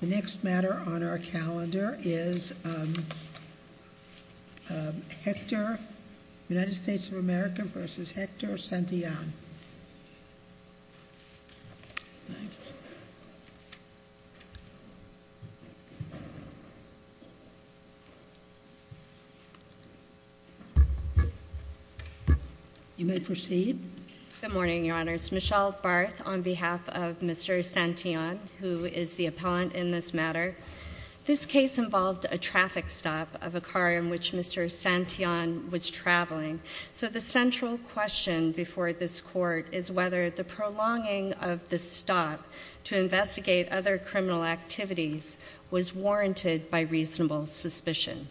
The next matter on our calendar is, um, um, Hector, United States of America v. Hector Santillan. You may proceed. Good morning, Your Honors. Michelle Barth on behalf of Mr. Santillan, who is the appellant in this matter. This case involved a traffic stop of a car in which Mr. Santillan was traveling. So the central question before this court is whether the prolonging of the stop to investigate other criminal activities was warranted by reasonable suspicion.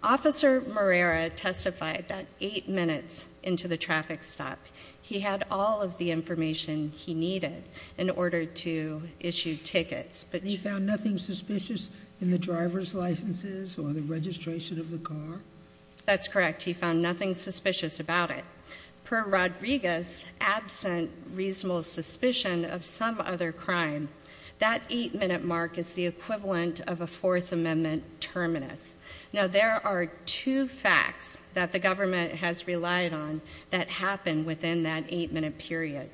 Officer Marrera testified that eight minutes into the traffic stop. He had all of the information he needed in order to issue tickets, but he found nothing suspicious in the driver's licenses or the registration of the car. That's correct. He found nothing suspicious about it. Per Rodriguez, absent reasonable suspicion of some other crime. That eight minute mark is the equivalent of a fourth amendment terminus. Now there are two facts that the government has relied on that happened within that eight minute period.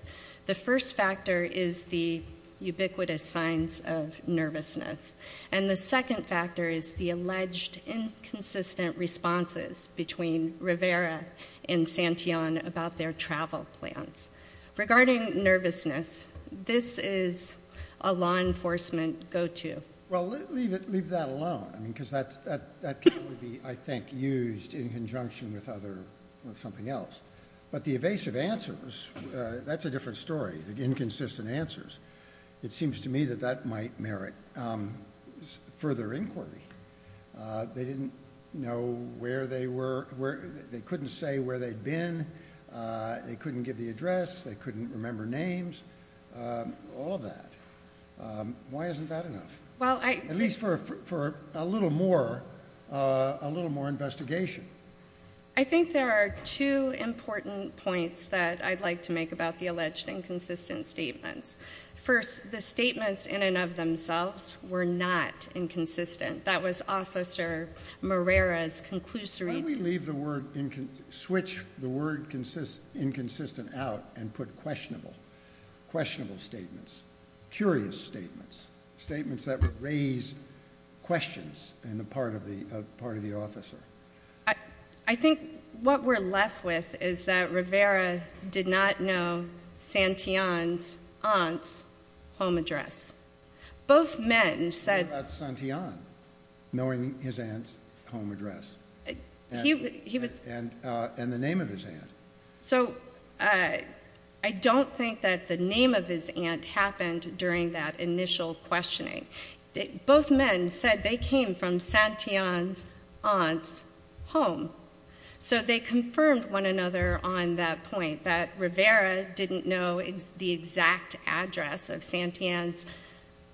The first factor is the ubiquitous signs of nervousness. And the second factor is the alleged inconsistent responses between Rivera and Santillan about their travel plans. Regarding nervousness, this is a law enforcement go to. Well, leave that alone. I mean, because that can be, I think, used in conjunction with something else. But the evasive answers, that's a different story, the inconsistent answers. It seems to me that that might merit further inquiry. They didn't know where they were, they couldn't say where they'd been, they couldn't give the address, they couldn't remember names, all of that. Why isn't that enough? Well, I- At least for a little more investigation. I think there are two important points that I'd like to make about the alleged inconsistent statements. First, the statements in and of themselves were not inconsistent. That was Officer Morera's conclusory- Why don't we leave the word, switch the word inconsistent out and put questionable, questionable statements, curious statements, statements that would raise questions in the part of the officer. I think what we're left with is that Rivera did not know Santillan's aunt's home address. Both men said- What about Santillan knowing his aunt's home address? He was- And the name of his aunt. So I don't think that the name of his aunt happened during that initial questioning. Both men said they came from Santillan's aunt's home. So they confirmed one another on that point, that Rivera didn't know the exact address of Santillan's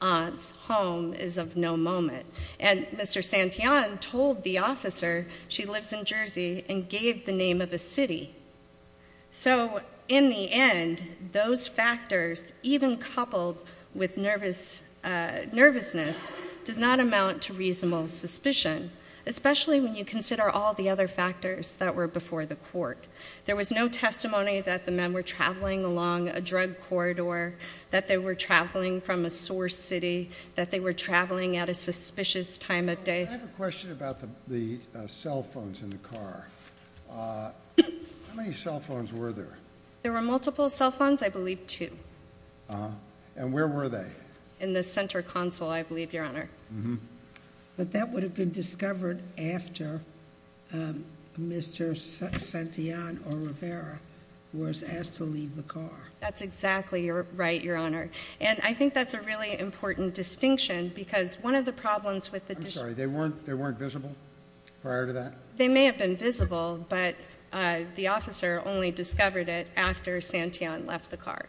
aunt's home is of no moment. And Mr. Santillan told the officer she lives in Jersey and gave the name of a city. So in the end, those factors, even coupled with nervousness, does not amount to reasonable suspicion, especially when you consider all the other factors that were before the court. There was no testimony that the men were traveling along a drug corridor, that they were traveling from a source city, that they were traveling at a suspicious time of day. I have a question about the cell phones in the car. How many cell phones were there? There were multiple cell phones, I believe two. And where were they? In the center console, I believe, Your Honor. But that would have been discovered after Mr. Santillan or Rivera was asked to leave the car. That's exactly right, Your Honor. And I think that's a really important distinction because one of the problems with the- I'm sorry, they weren't visible prior to that? They may have been visible, but the officer only discovered it after Santillan left the car.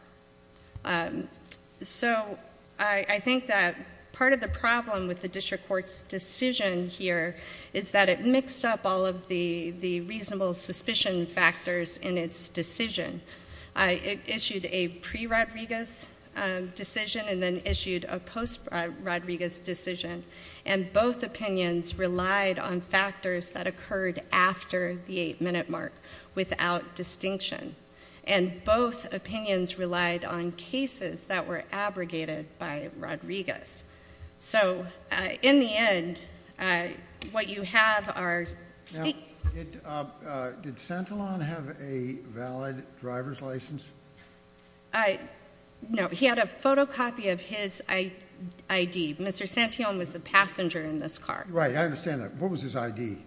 So I think that part of the problem with the district court's decision here is that it mixed up all of the reasonable suspicion factors in its decision. It issued a pre-Rodriguez decision and then issued a post-Rodriguez decision, and both opinions relied on factors that occurred after the eight-minute mark without distinction. And both opinions relied on cases that were abrogated by Rodriguez. So in the end, what you have are- Did Santillan have a valid driver's license? No, he had a photocopy of his ID. Mr. Santillan was a passenger in this car. Right, I understand that. What was his ID? Do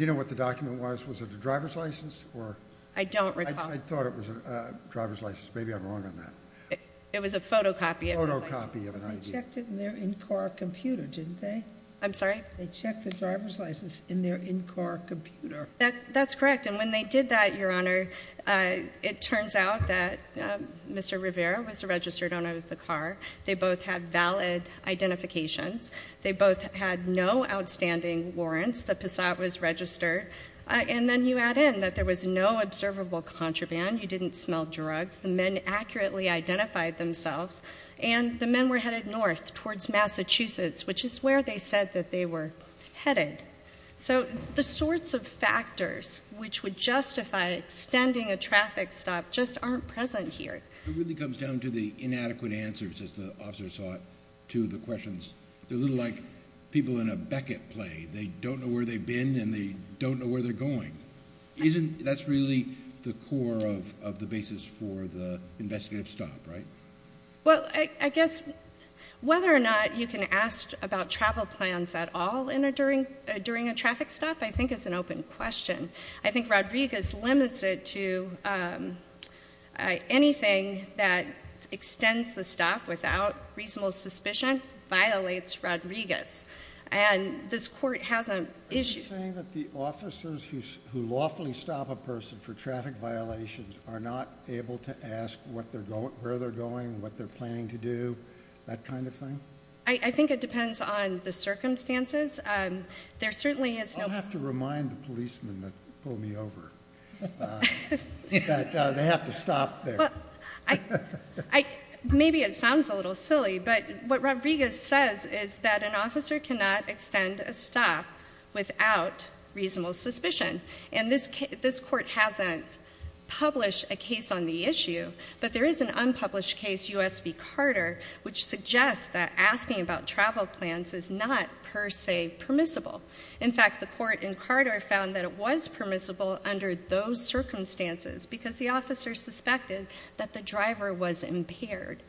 you know what the document was? Was it a driver's license or- I don't recall. I thought it was a driver's license. Maybe I'm wrong on that. It was a photocopy of his ID. Photocopy of an ID. They checked it in their in-car computer, didn't they? I'm sorry? They checked the driver's license in their in-car computer. That's correct. And when they did that, Your Honor, it turns out that Mr. Rivera was a registered owner of the car. They both had valid identifications. They both had no outstanding warrants. The Passat was registered. And then you add in that there was no observable contraband. You didn't smell drugs. The men accurately identified themselves. And the men were headed north towards Massachusetts, which is where they said that they were headed. So the sorts of factors which would justify extending a traffic stop just aren't present here. It really comes down to the inadequate answers, as the officer saw it, to the questions. They're a little like people in a Beckett play. They don't know where they've been, and they don't know where they're going. That's really the core of the basis for the investigative stop, right? Well, I guess whether or not you can ask about travel plans at all during a traffic stop, I think is an open question. I think Rodriguez limits it to anything that extends the stop without reasonable suspicion violates Rodriguez. And this court has an issue- Are you saying that the officers who lawfully stop a person for traffic violations are not able to ask where they're going, what they're planning to do, that kind of thing? I think it depends on the circumstances. There certainly is no- I'll have to remind the policemen that pulled me over that they have to stop there. Maybe it sounds a little silly, but what Rodriguez says is that an officer cannot extend a stop without reasonable suspicion. And this court hasn't published a case on the issue, but there is an unpublished case, U.S. v. Carter, which suggests that asking about travel plans is not per se permissible. In fact, the court in Carter found that it was permissible under those circumstances because the officer suspected that the driver was impaired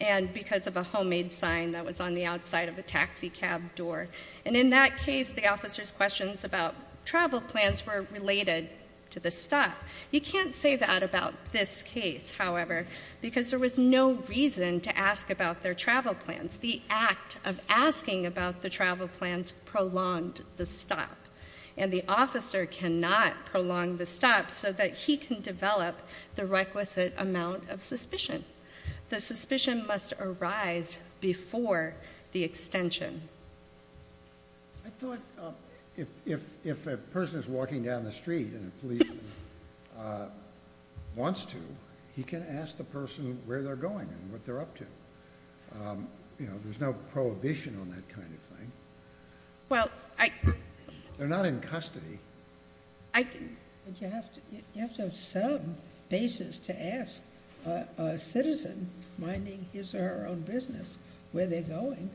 and because of a homemade sign that was on the outside of a taxi cab door. And in that case, the officer's questions about travel plans were related to the stop. You can't say that about this case, however, because there was no reason to ask about their travel plans. The act of asking about the travel plans prolonged the stop, and the officer cannot prolong the stop so that he can develop the requisite amount of suspicion. The suspicion must arise before the extension. I thought if a person is walking down the street and a police wants to, he can ask the person where they're going and what they're up to. You know, there's no prohibition on that kind of thing. They're not in custody. But you have to have some basis to ask a citizen, minding his or her own business, where they're going.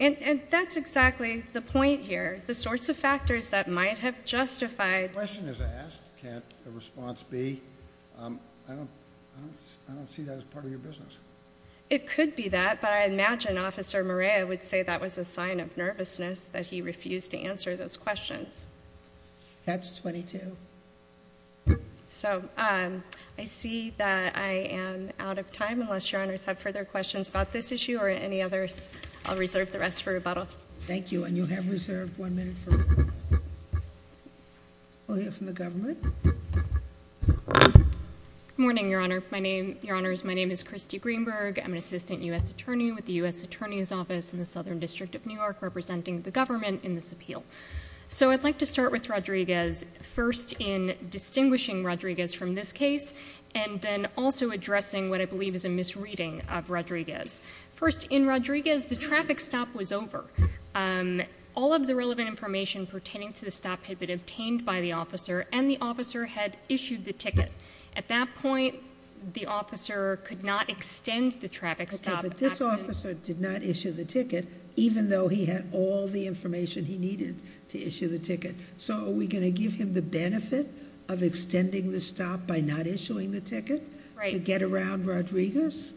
And that's exactly the point here. The sorts of factors that might have justified— A question is asked. Can't a response be, I don't see that as part of your business. It could be that. But I imagine Officer Morea would say that was a sign of nervousness, that he refused to answer those questions. That's 22. So I see that I am out of time, unless Your Honors have further questions about this issue or any others. I'll reserve the rest for rebuttal. Thank you. And you have reserved one minute for— We'll hear from the government. Good morning, Your Honor. Your Honors, my name is Christy Greenberg. I'm an assistant U.S. attorney with the U.S. Attorney's Office in the Southern District of New York, representing the government in this appeal. So I'd like to start with Rodriguez, first in distinguishing Rodriguez from this case, and then also addressing what I believe is a misreading of Rodriguez. First, in Rodriguez, the traffic stop was over. All of the relevant information pertaining to the stop had been obtained by the officer, and the officer had issued the ticket. At that point, the officer could not extend the traffic stop. Okay, but this officer did not issue the ticket, even though he had all the information he needed to issue the ticket. So are we going to give him the benefit of extending the stop by not issuing the ticket? Right. To get around Rodriguez?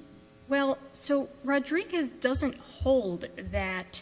Well, so Rodriguez doesn't hold that—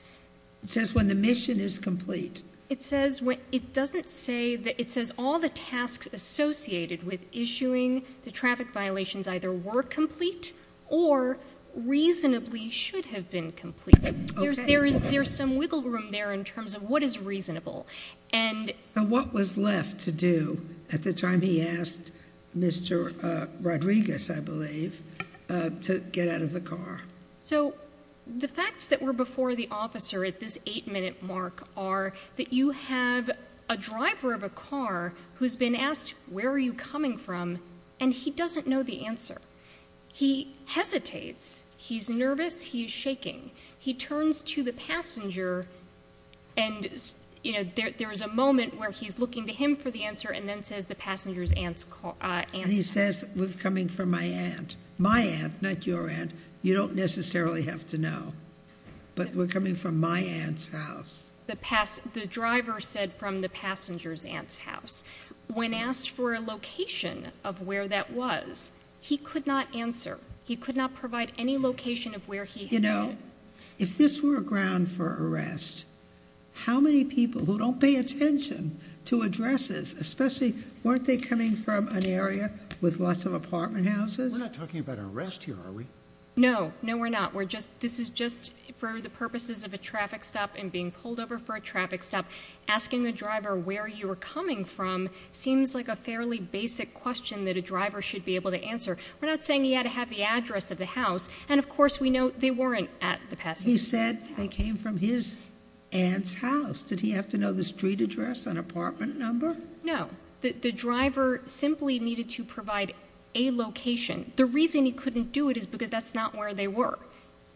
It says when the mission is complete. It says when—it doesn't say that—it says all the tasks associated with issuing the traffic violations either were complete or reasonably should have been complete. There's some wiggle room there in terms of what is reasonable, and— So what was left to do at the time he asked Mr. Rodriguez, I believe, to get out of the car? So the facts that were before the officer at this eight-minute mark are that you have a driver of a car who's been asked, where are you coming from, and he doesn't know the answer. He hesitates. He's nervous. He's shaking. He turns to the passenger, and, you know, there's a moment where he's looking to him for the answer and then says the passenger's aunt's call— And he says, we're coming for my aunt. My aunt, not your aunt. You don't necessarily have to know, but we're coming from my aunt's house. The pass—the driver said from the passenger's aunt's house. When asked for a location of where that was, he could not answer. He could not provide any location of where he— You know, if this were a ground for arrest, how many people who don't pay attention to addresses, especially—weren't they coming from an area with lots of apartment houses? We're not talking about arrest here, are we? No. No, we're not. We're just—this is just for the purposes of a traffic stop and being pulled over for a traffic stop. Asking the driver where you were coming from seems like a fairly basic question that a driver should be able to answer. We're not saying he had to have the address of the house, and, of course, we know they weren't at the passenger's aunt's house. He said they came from his aunt's house. Did he have to know the street address, an apartment number? No. The driver simply needed to provide a location. The reason he couldn't do it is because that's not where they were.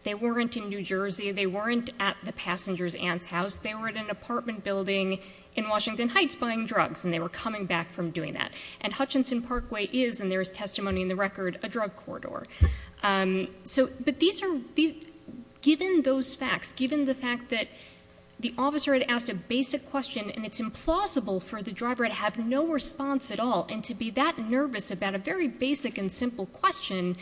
They weren't in New Jersey. They weren't at the passenger's aunt's house. They were at an apartment building in Washington Heights buying drugs, and they were coming back from doing that. And Hutchinson Parkway is, and there is testimony in the record, a drug corridor. So—but these are—given those facts, given the fact that the officer had asked a basic question, and it's implausible for the driver to have no response at all and to be that nervous about a very basic and simple question,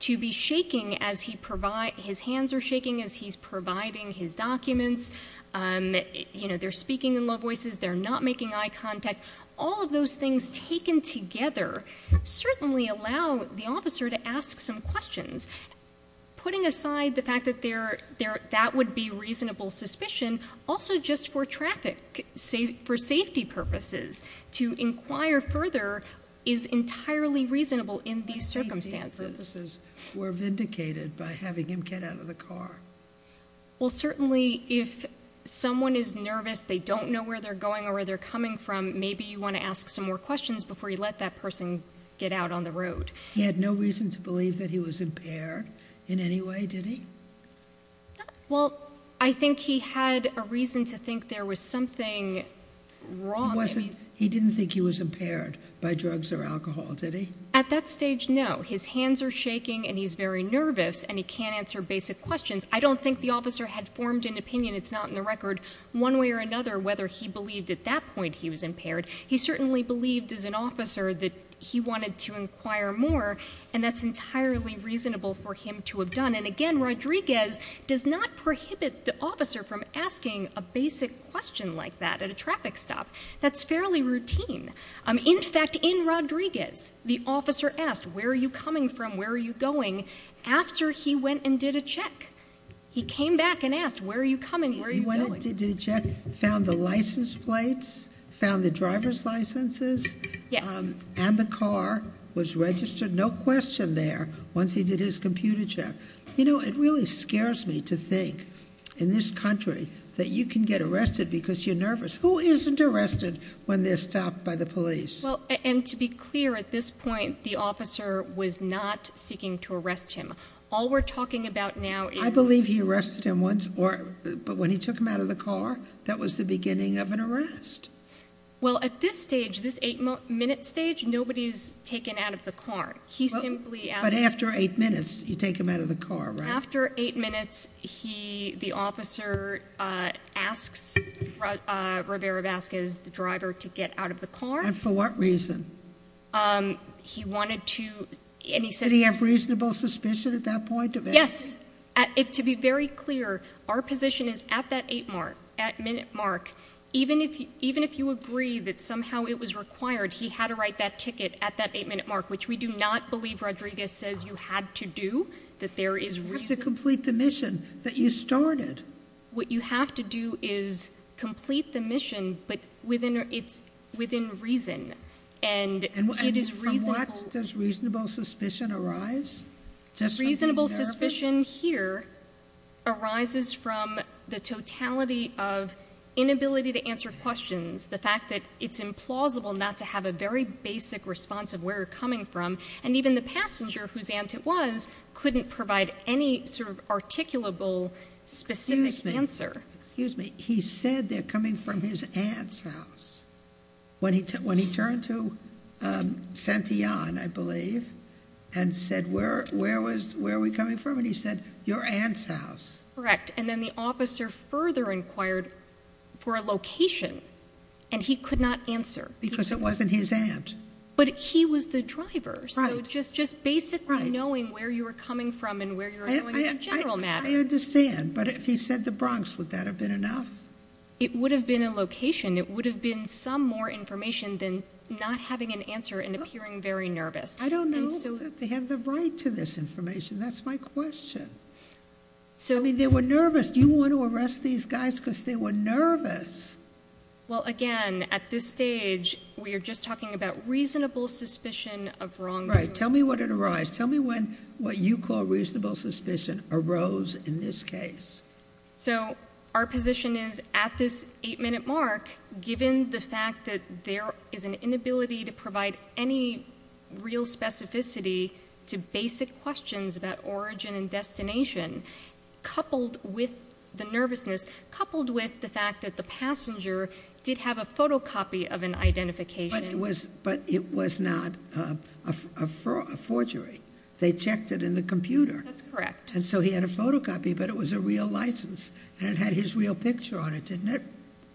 to be shaking as he provide—his hands are shaking as he's providing his documents. You know, they're speaking in low voices. They're not making eye contact. All of those things taken together certainly allow the officer to ask some questions, putting aside the fact that that would be reasonable suspicion, also just for traffic, for safety purposes. To inquire further is entirely reasonable in these circumstances. But safety purposes were vindicated by having him get out of the car. Well, certainly if someone is nervous, they don't know where they're going or where they're coming from, maybe you want to ask some more questions before you let that person get out on the road. He had no reason to believe that he was impaired in any way, did he? No. Well, I think he had a reason to think there was something wrong. He didn't think he was impaired by drugs or alcohol, did he? At that stage, no. His hands are shaking, and he's very nervous, and he can't answer basic questions. I don't think the officer had formed an opinion—it's not in the record—one way or another whether he believed at that point he was impaired. He certainly believed as an officer that he wanted to inquire more, and that's entirely reasonable for him to have done. And again, Rodriguez does not prohibit the officer from asking a basic question like that at a traffic stop. That's fairly routine. In fact, in Rodriguez, the officer asked, where are you coming from? Where are you going? After he went and did a check, he came back and asked, where are you coming? Where are you going? He went and did a check, found the license plates, found the driver's licenses, and the car was registered, no question there, once he did his computer check. It really scares me to think, in this country, that you can get arrested because you're nervous. Who isn't arrested when they're stopped by the police? Well, and to be clear, at this point, the officer was not seeking to arrest him. All we're talking about now is— I believe he arrested him once, but when he took him out of the car, that was the beginning of an arrest. Well, at this stage, this eight-minute stage, nobody's taken out of the car. He simply asked— But after eight minutes, you take him out of the car, right? After eight minutes, the officer asks Rivera-Vasquez, the driver, to get out of the car. And for what reason? He wanted to— Did he have reasonable suspicion at that point of it? Yes. To be very clear, our position is, at that eight-minute mark, even if you agree that somehow it was required, he had to write that ticket at that eight-minute mark, which we do not believe Rodriguez says you had to do, that there is reason— You have to complete the mission that you started. What you have to do is complete the mission, but it's within reason. And from what does reasonable suspicion arise? Reasonable suspicion here arises from the totality of inability to answer questions, the fact that it's implausible not to have a very basic response of where you're coming from, and even the passenger whose aunt it was couldn't provide any sort of articulable specific answer. Excuse me. He said they're coming from his aunt's house when he turned to Santillan, I believe, and said, where are we coming from? And he said, your aunt's house. Correct. And then the officer further inquired for a location, and he could not answer. Because it wasn't his aunt. But he was the driver. So just basically knowing where you were coming from and where you were going is a general matter. I understand, but if he said the Bronx, would that have been enough? It would have been a location. It would have been some more information than not having an answer and appearing very nervous. I don't know that they have the right to this information. That's my question. I mean, they were nervous. Do you want to arrest these guys because they were nervous? Well, again, at this stage, we are just talking about reasonable suspicion of wrongdoing. Right. Tell me what had arised. Tell me when what you call reasonable suspicion arose in this case. So our position is, at this eight-minute mark, given the fact that there is an inability to provide any real specificity to basic questions about origin and destination, coupled with the nervousness, coupled with the fact that the passenger did have a photocopy of an identification. But it was not a forgery. They checked it in the computer. That's correct. And so he had a photocopy, but it was a real license. And it had his real picture on it, didn't it?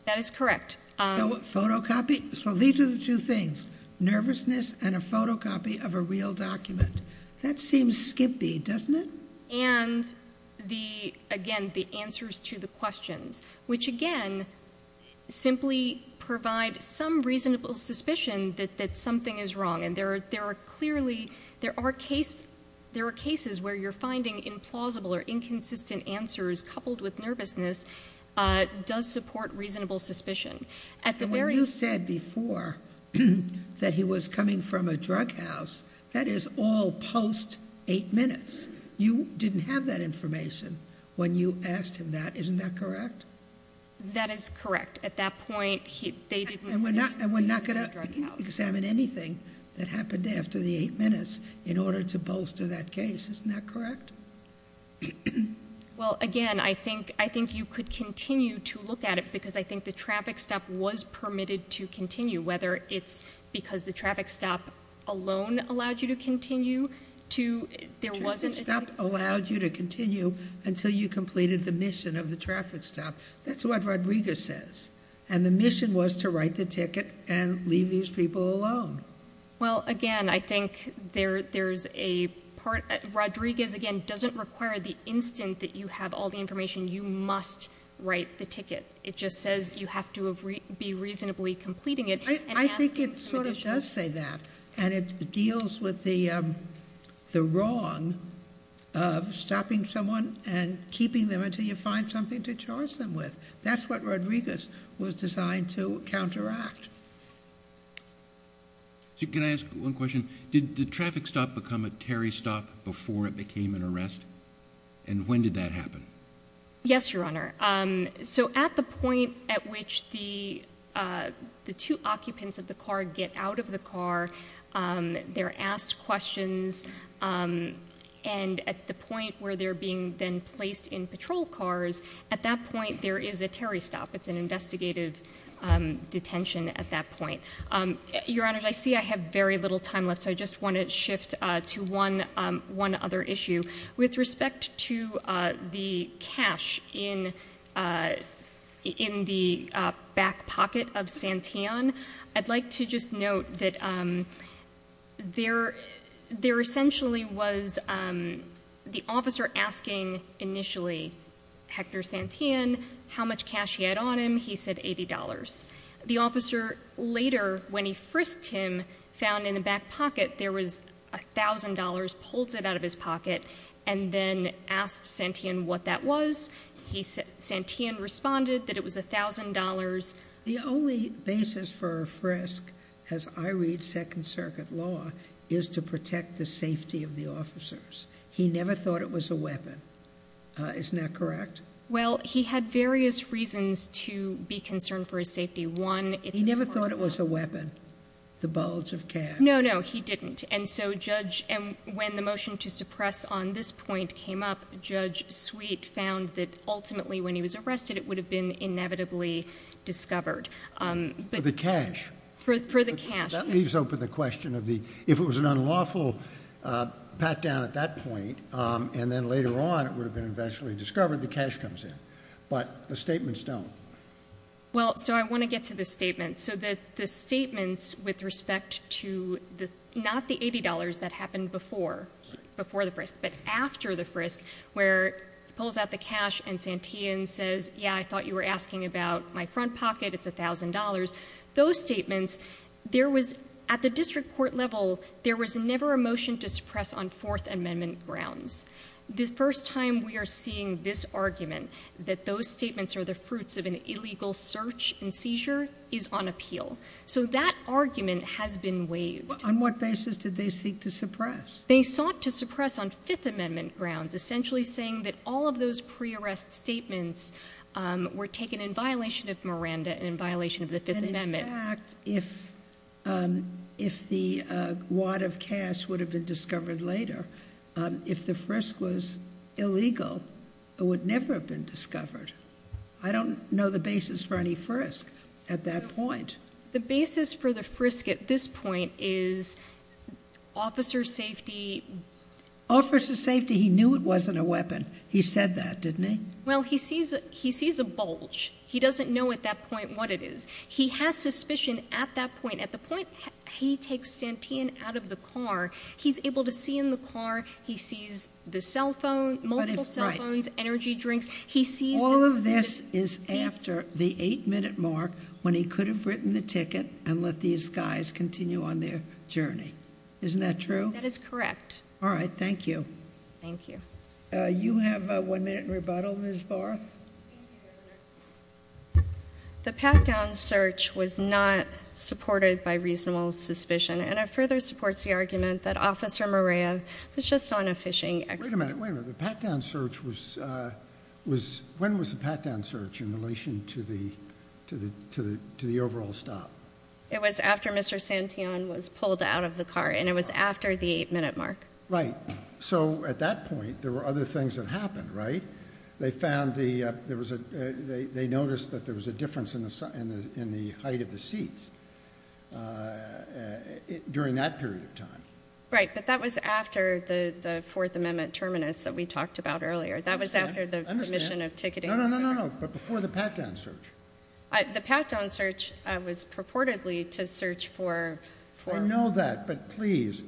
That is correct. Photocopy. So these are the two things, nervousness and a photocopy of a real document. That seems skimpy, doesn't it? And, again, the answers to the questions, which, again, simply provide some reasonable suspicion that something is wrong. There are cases where you're finding implausible or inconsistent answers coupled with nervousness does support reasonable suspicion. When you said before that he was coming from a drug house, that is all post-eight minutes. You didn't have that information when you asked him that. Isn't that correct? That is correct. At that point, they didn't know he was coming from a drug house. And we're not going to examine anything that happened after the eight minutes in order to bolster that case. Isn't that correct? Well, again, I think you could continue to look at it, because I think the traffic stop was permitted to continue, whether it's because the traffic stop alone allowed you to continue. The traffic stop allowed you to continue until you completed the mission of the traffic stop. That's what Rodriguez says. And the mission was to write the ticket and leave these people alone. Well, again, I think there's a part. Rodriguez, again, doesn't require the instant that you have all the information. You must write the ticket. It just says you have to be reasonably completing it. I think it sort of does say that. And it deals with the wrong of stopping someone and keeping them until you find something to charge them with. That's what Rodriguez was designed to counteract. Can I ask one question? Did the traffic stop become a Terry stop before it became an arrest? And when did that happen? Yes, Your Honor. So at the point at which the two occupants of the car get out of the car, they're asked questions. And at the point where they're being then placed in patrol cars, at that point, there is a Terry stop. It's an investigative detention at that point. Your Honor, I see I have very little time left. So I just want to shift to one other issue. With respect to the cash in the back pocket of Santeon, I'd like to just note that there essentially was the officer asking, initially, Hector Santeon how much cash he had on him. He said $80. The officer later, when he frisked him, found in the back pocket, there was $1,000, pulled it out of his pocket, and then asked Santeon what that was. Santeon responded that it was $1,000. The only basis for a frisk, as I read Second Circuit law, is to protect the safety of the officers. He never thought it was a weapon. Isn't that correct? Well, he had various reasons to be concerned for his safety. One, it's of course not— He never thought it was a weapon, the bulge of cash. No, no, he didn't. And so, Judge—and when the motion to suppress on this point came up, Judge Sweet found that ultimately, when he was arrested, it would have been inevitably discovered. For the cash. For the cash. That leaves open the question of if it was an unlawful pat-down at that point, and then later on it would have been eventually discovered, the cash comes in. But the statements don't. Well, so I want to get to the statements. So the statements with respect to not the $80 that happened before the frisk, but after the frisk, where he pulls out the cash and Santeon says, yeah, I thought you were asking about my front pocket, it's $1,000. Those statements, there was—at the district court level, there was never a motion to suppress on Fourth Amendment grounds. The first time we are seeing this argument, that those statements are the fruits of an illegal search and seizure, is on appeal. So that argument has been waived. On what basis did they seek to suppress? They sought to suppress on Fifth Amendment grounds, essentially saying that all of those pre-arrest statements were taken in violation of Miranda and in violation of the Fifth Amendment. And in fact, if the wad of cash would have been discovered later, if the frisk was illegal, it would never have been discovered. I don't know the basis for any frisk at that point. The basis for the frisk at this point is officer safety— He said that, didn't he? Well, he sees a bulge. He doesn't know at that point what it is. He has suspicion at that point. At the point he takes Santeon out of the car, he's able to see in the car, he sees the cell phone, multiple cell phones, energy drinks. He sees— All of this is after the eight-minute mark when he could have written the ticket and let these guys continue on their journey. Isn't that true? That is correct. All right. Thank you. Thank you. You have one minute in rebuttal, Ms. Barth. The pat-down search was not supported by reasonable suspicion, and it further supports the argument that Officer Morea was just on a fishing expedition. Wait a minute. Wait a minute. The pat-down search was— When was the pat-down search in relation to the overall stop? It was after Mr. Santeon was pulled out of the car, and it was after the eight-minute mark. Right. So at that point, there were other things that happened, right? They found the— They noticed that there was a difference in the height of the seats during that period of time. Right. But that was after the Fourth Amendment terminus that we talked about earlier. That was after the commission of ticketing— No, no, no, no, no. But before the pat-down search. The pat-down search was purportedly to search for— I know that. But please,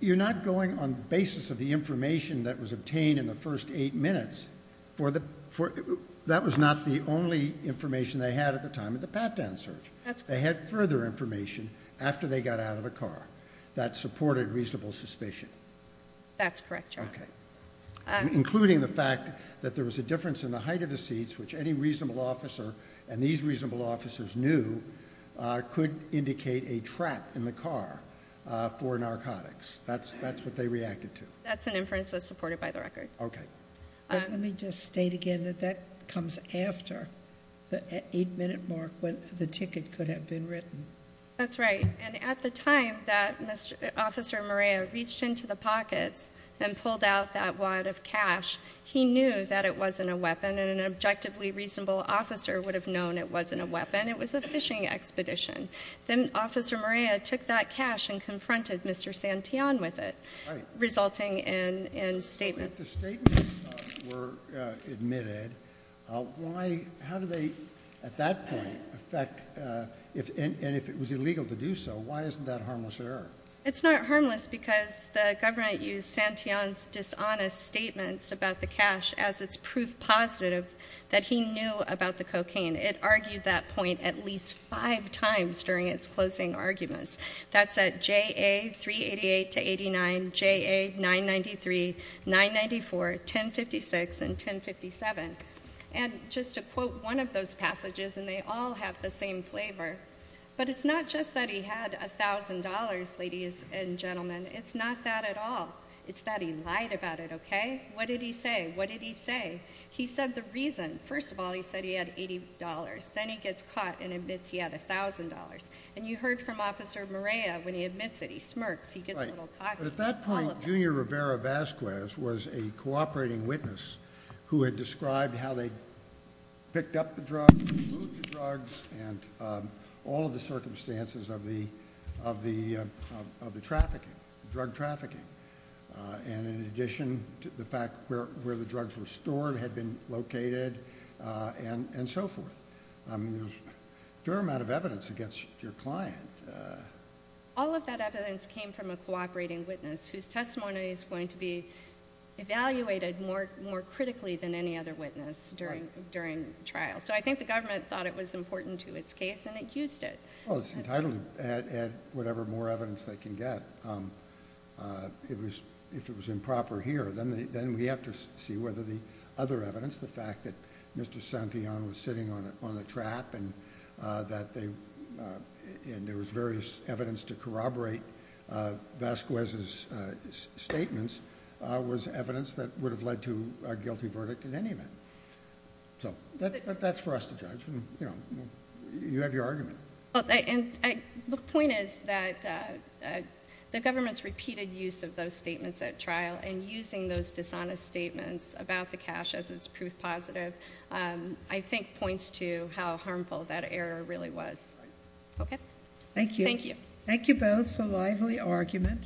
you're not going on basis of the information that was obtained in the first eight minutes. That was not the only information they had at the time of the pat-down search. That's correct. They had further information after they got out of the car that supported reasonable suspicion. That's correct, Your Honor. Okay. Including the fact that there was a difference in the height of the seats, which any reasonable officer and these reasonable officers knew could indicate a trap in the car for narcotics. That's what they reacted to. That's an inference that's supported by the record. Okay. Let me just state again that that comes after the eight-minute mark when the ticket could have been written. That's right. And at the time that Officer Marea reached into the pockets and pulled out that wad of cash, he knew that it wasn't a weapon. And an objectively reasonable officer would have known it wasn't a weapon. It was a fishing expedition. Then Officer Marea took that cash and confronted Mr. Santillan with it, resulting in statements. If the statements were admitted, how do they, at that point, affect, and if it was illegal to do so, why isn't that harmless error? It's not harmless because the government used Santillan's dishonest statements about the cash as its proof positive that he knew about the cocaine. It argued that point at least five times during its closing arguments. That's at JA 388 to 89, JA 993, 994, 1056, and 1057. And just to quote one of those passages, and they all have the same flavor, but it's not just that he had $1,000, ladies and gentlemen. It's not that at all. It's that he lied about it. Okay. What did he say? What did he say? He said the reason. Then he gets caught and admits he had $1,000. And you heard from Officer Marea when he admits it. He smirks. He gets a little cocky. But at that point, Junior Rivera Vazquez was a cooperating witness who had described how they picked up the drugs, moved the drugs, and all of the circumstances of the trafficking, drug trafficking. And in addition to the fact where the drugs were stored, had been located, and so forth. There's a fair amount of evidence against your client. All of that evidence came from a cooperating witness whose testimony is going to be evaluated more critically than any other witness during trial. So I think the government thought it was important to its case, and it used it. Well, it's entitled to whatever more evidence they can get. If it was improper here, then we have to see whether the other evidence, the fact that Mr. Santillan was sitting on the trap and there was various evidence to corroborate Vazquez's statements, was evidence that would have led to a guilty verdict in any event. So that's for us to judge. You have your argument. And the point is that the government's repeated use of those statements at trial and using those dishonest statements about the cash as its proof positive, I think points to how harmful that error really was. Okay. Thank you. Thank you both for a lively argument.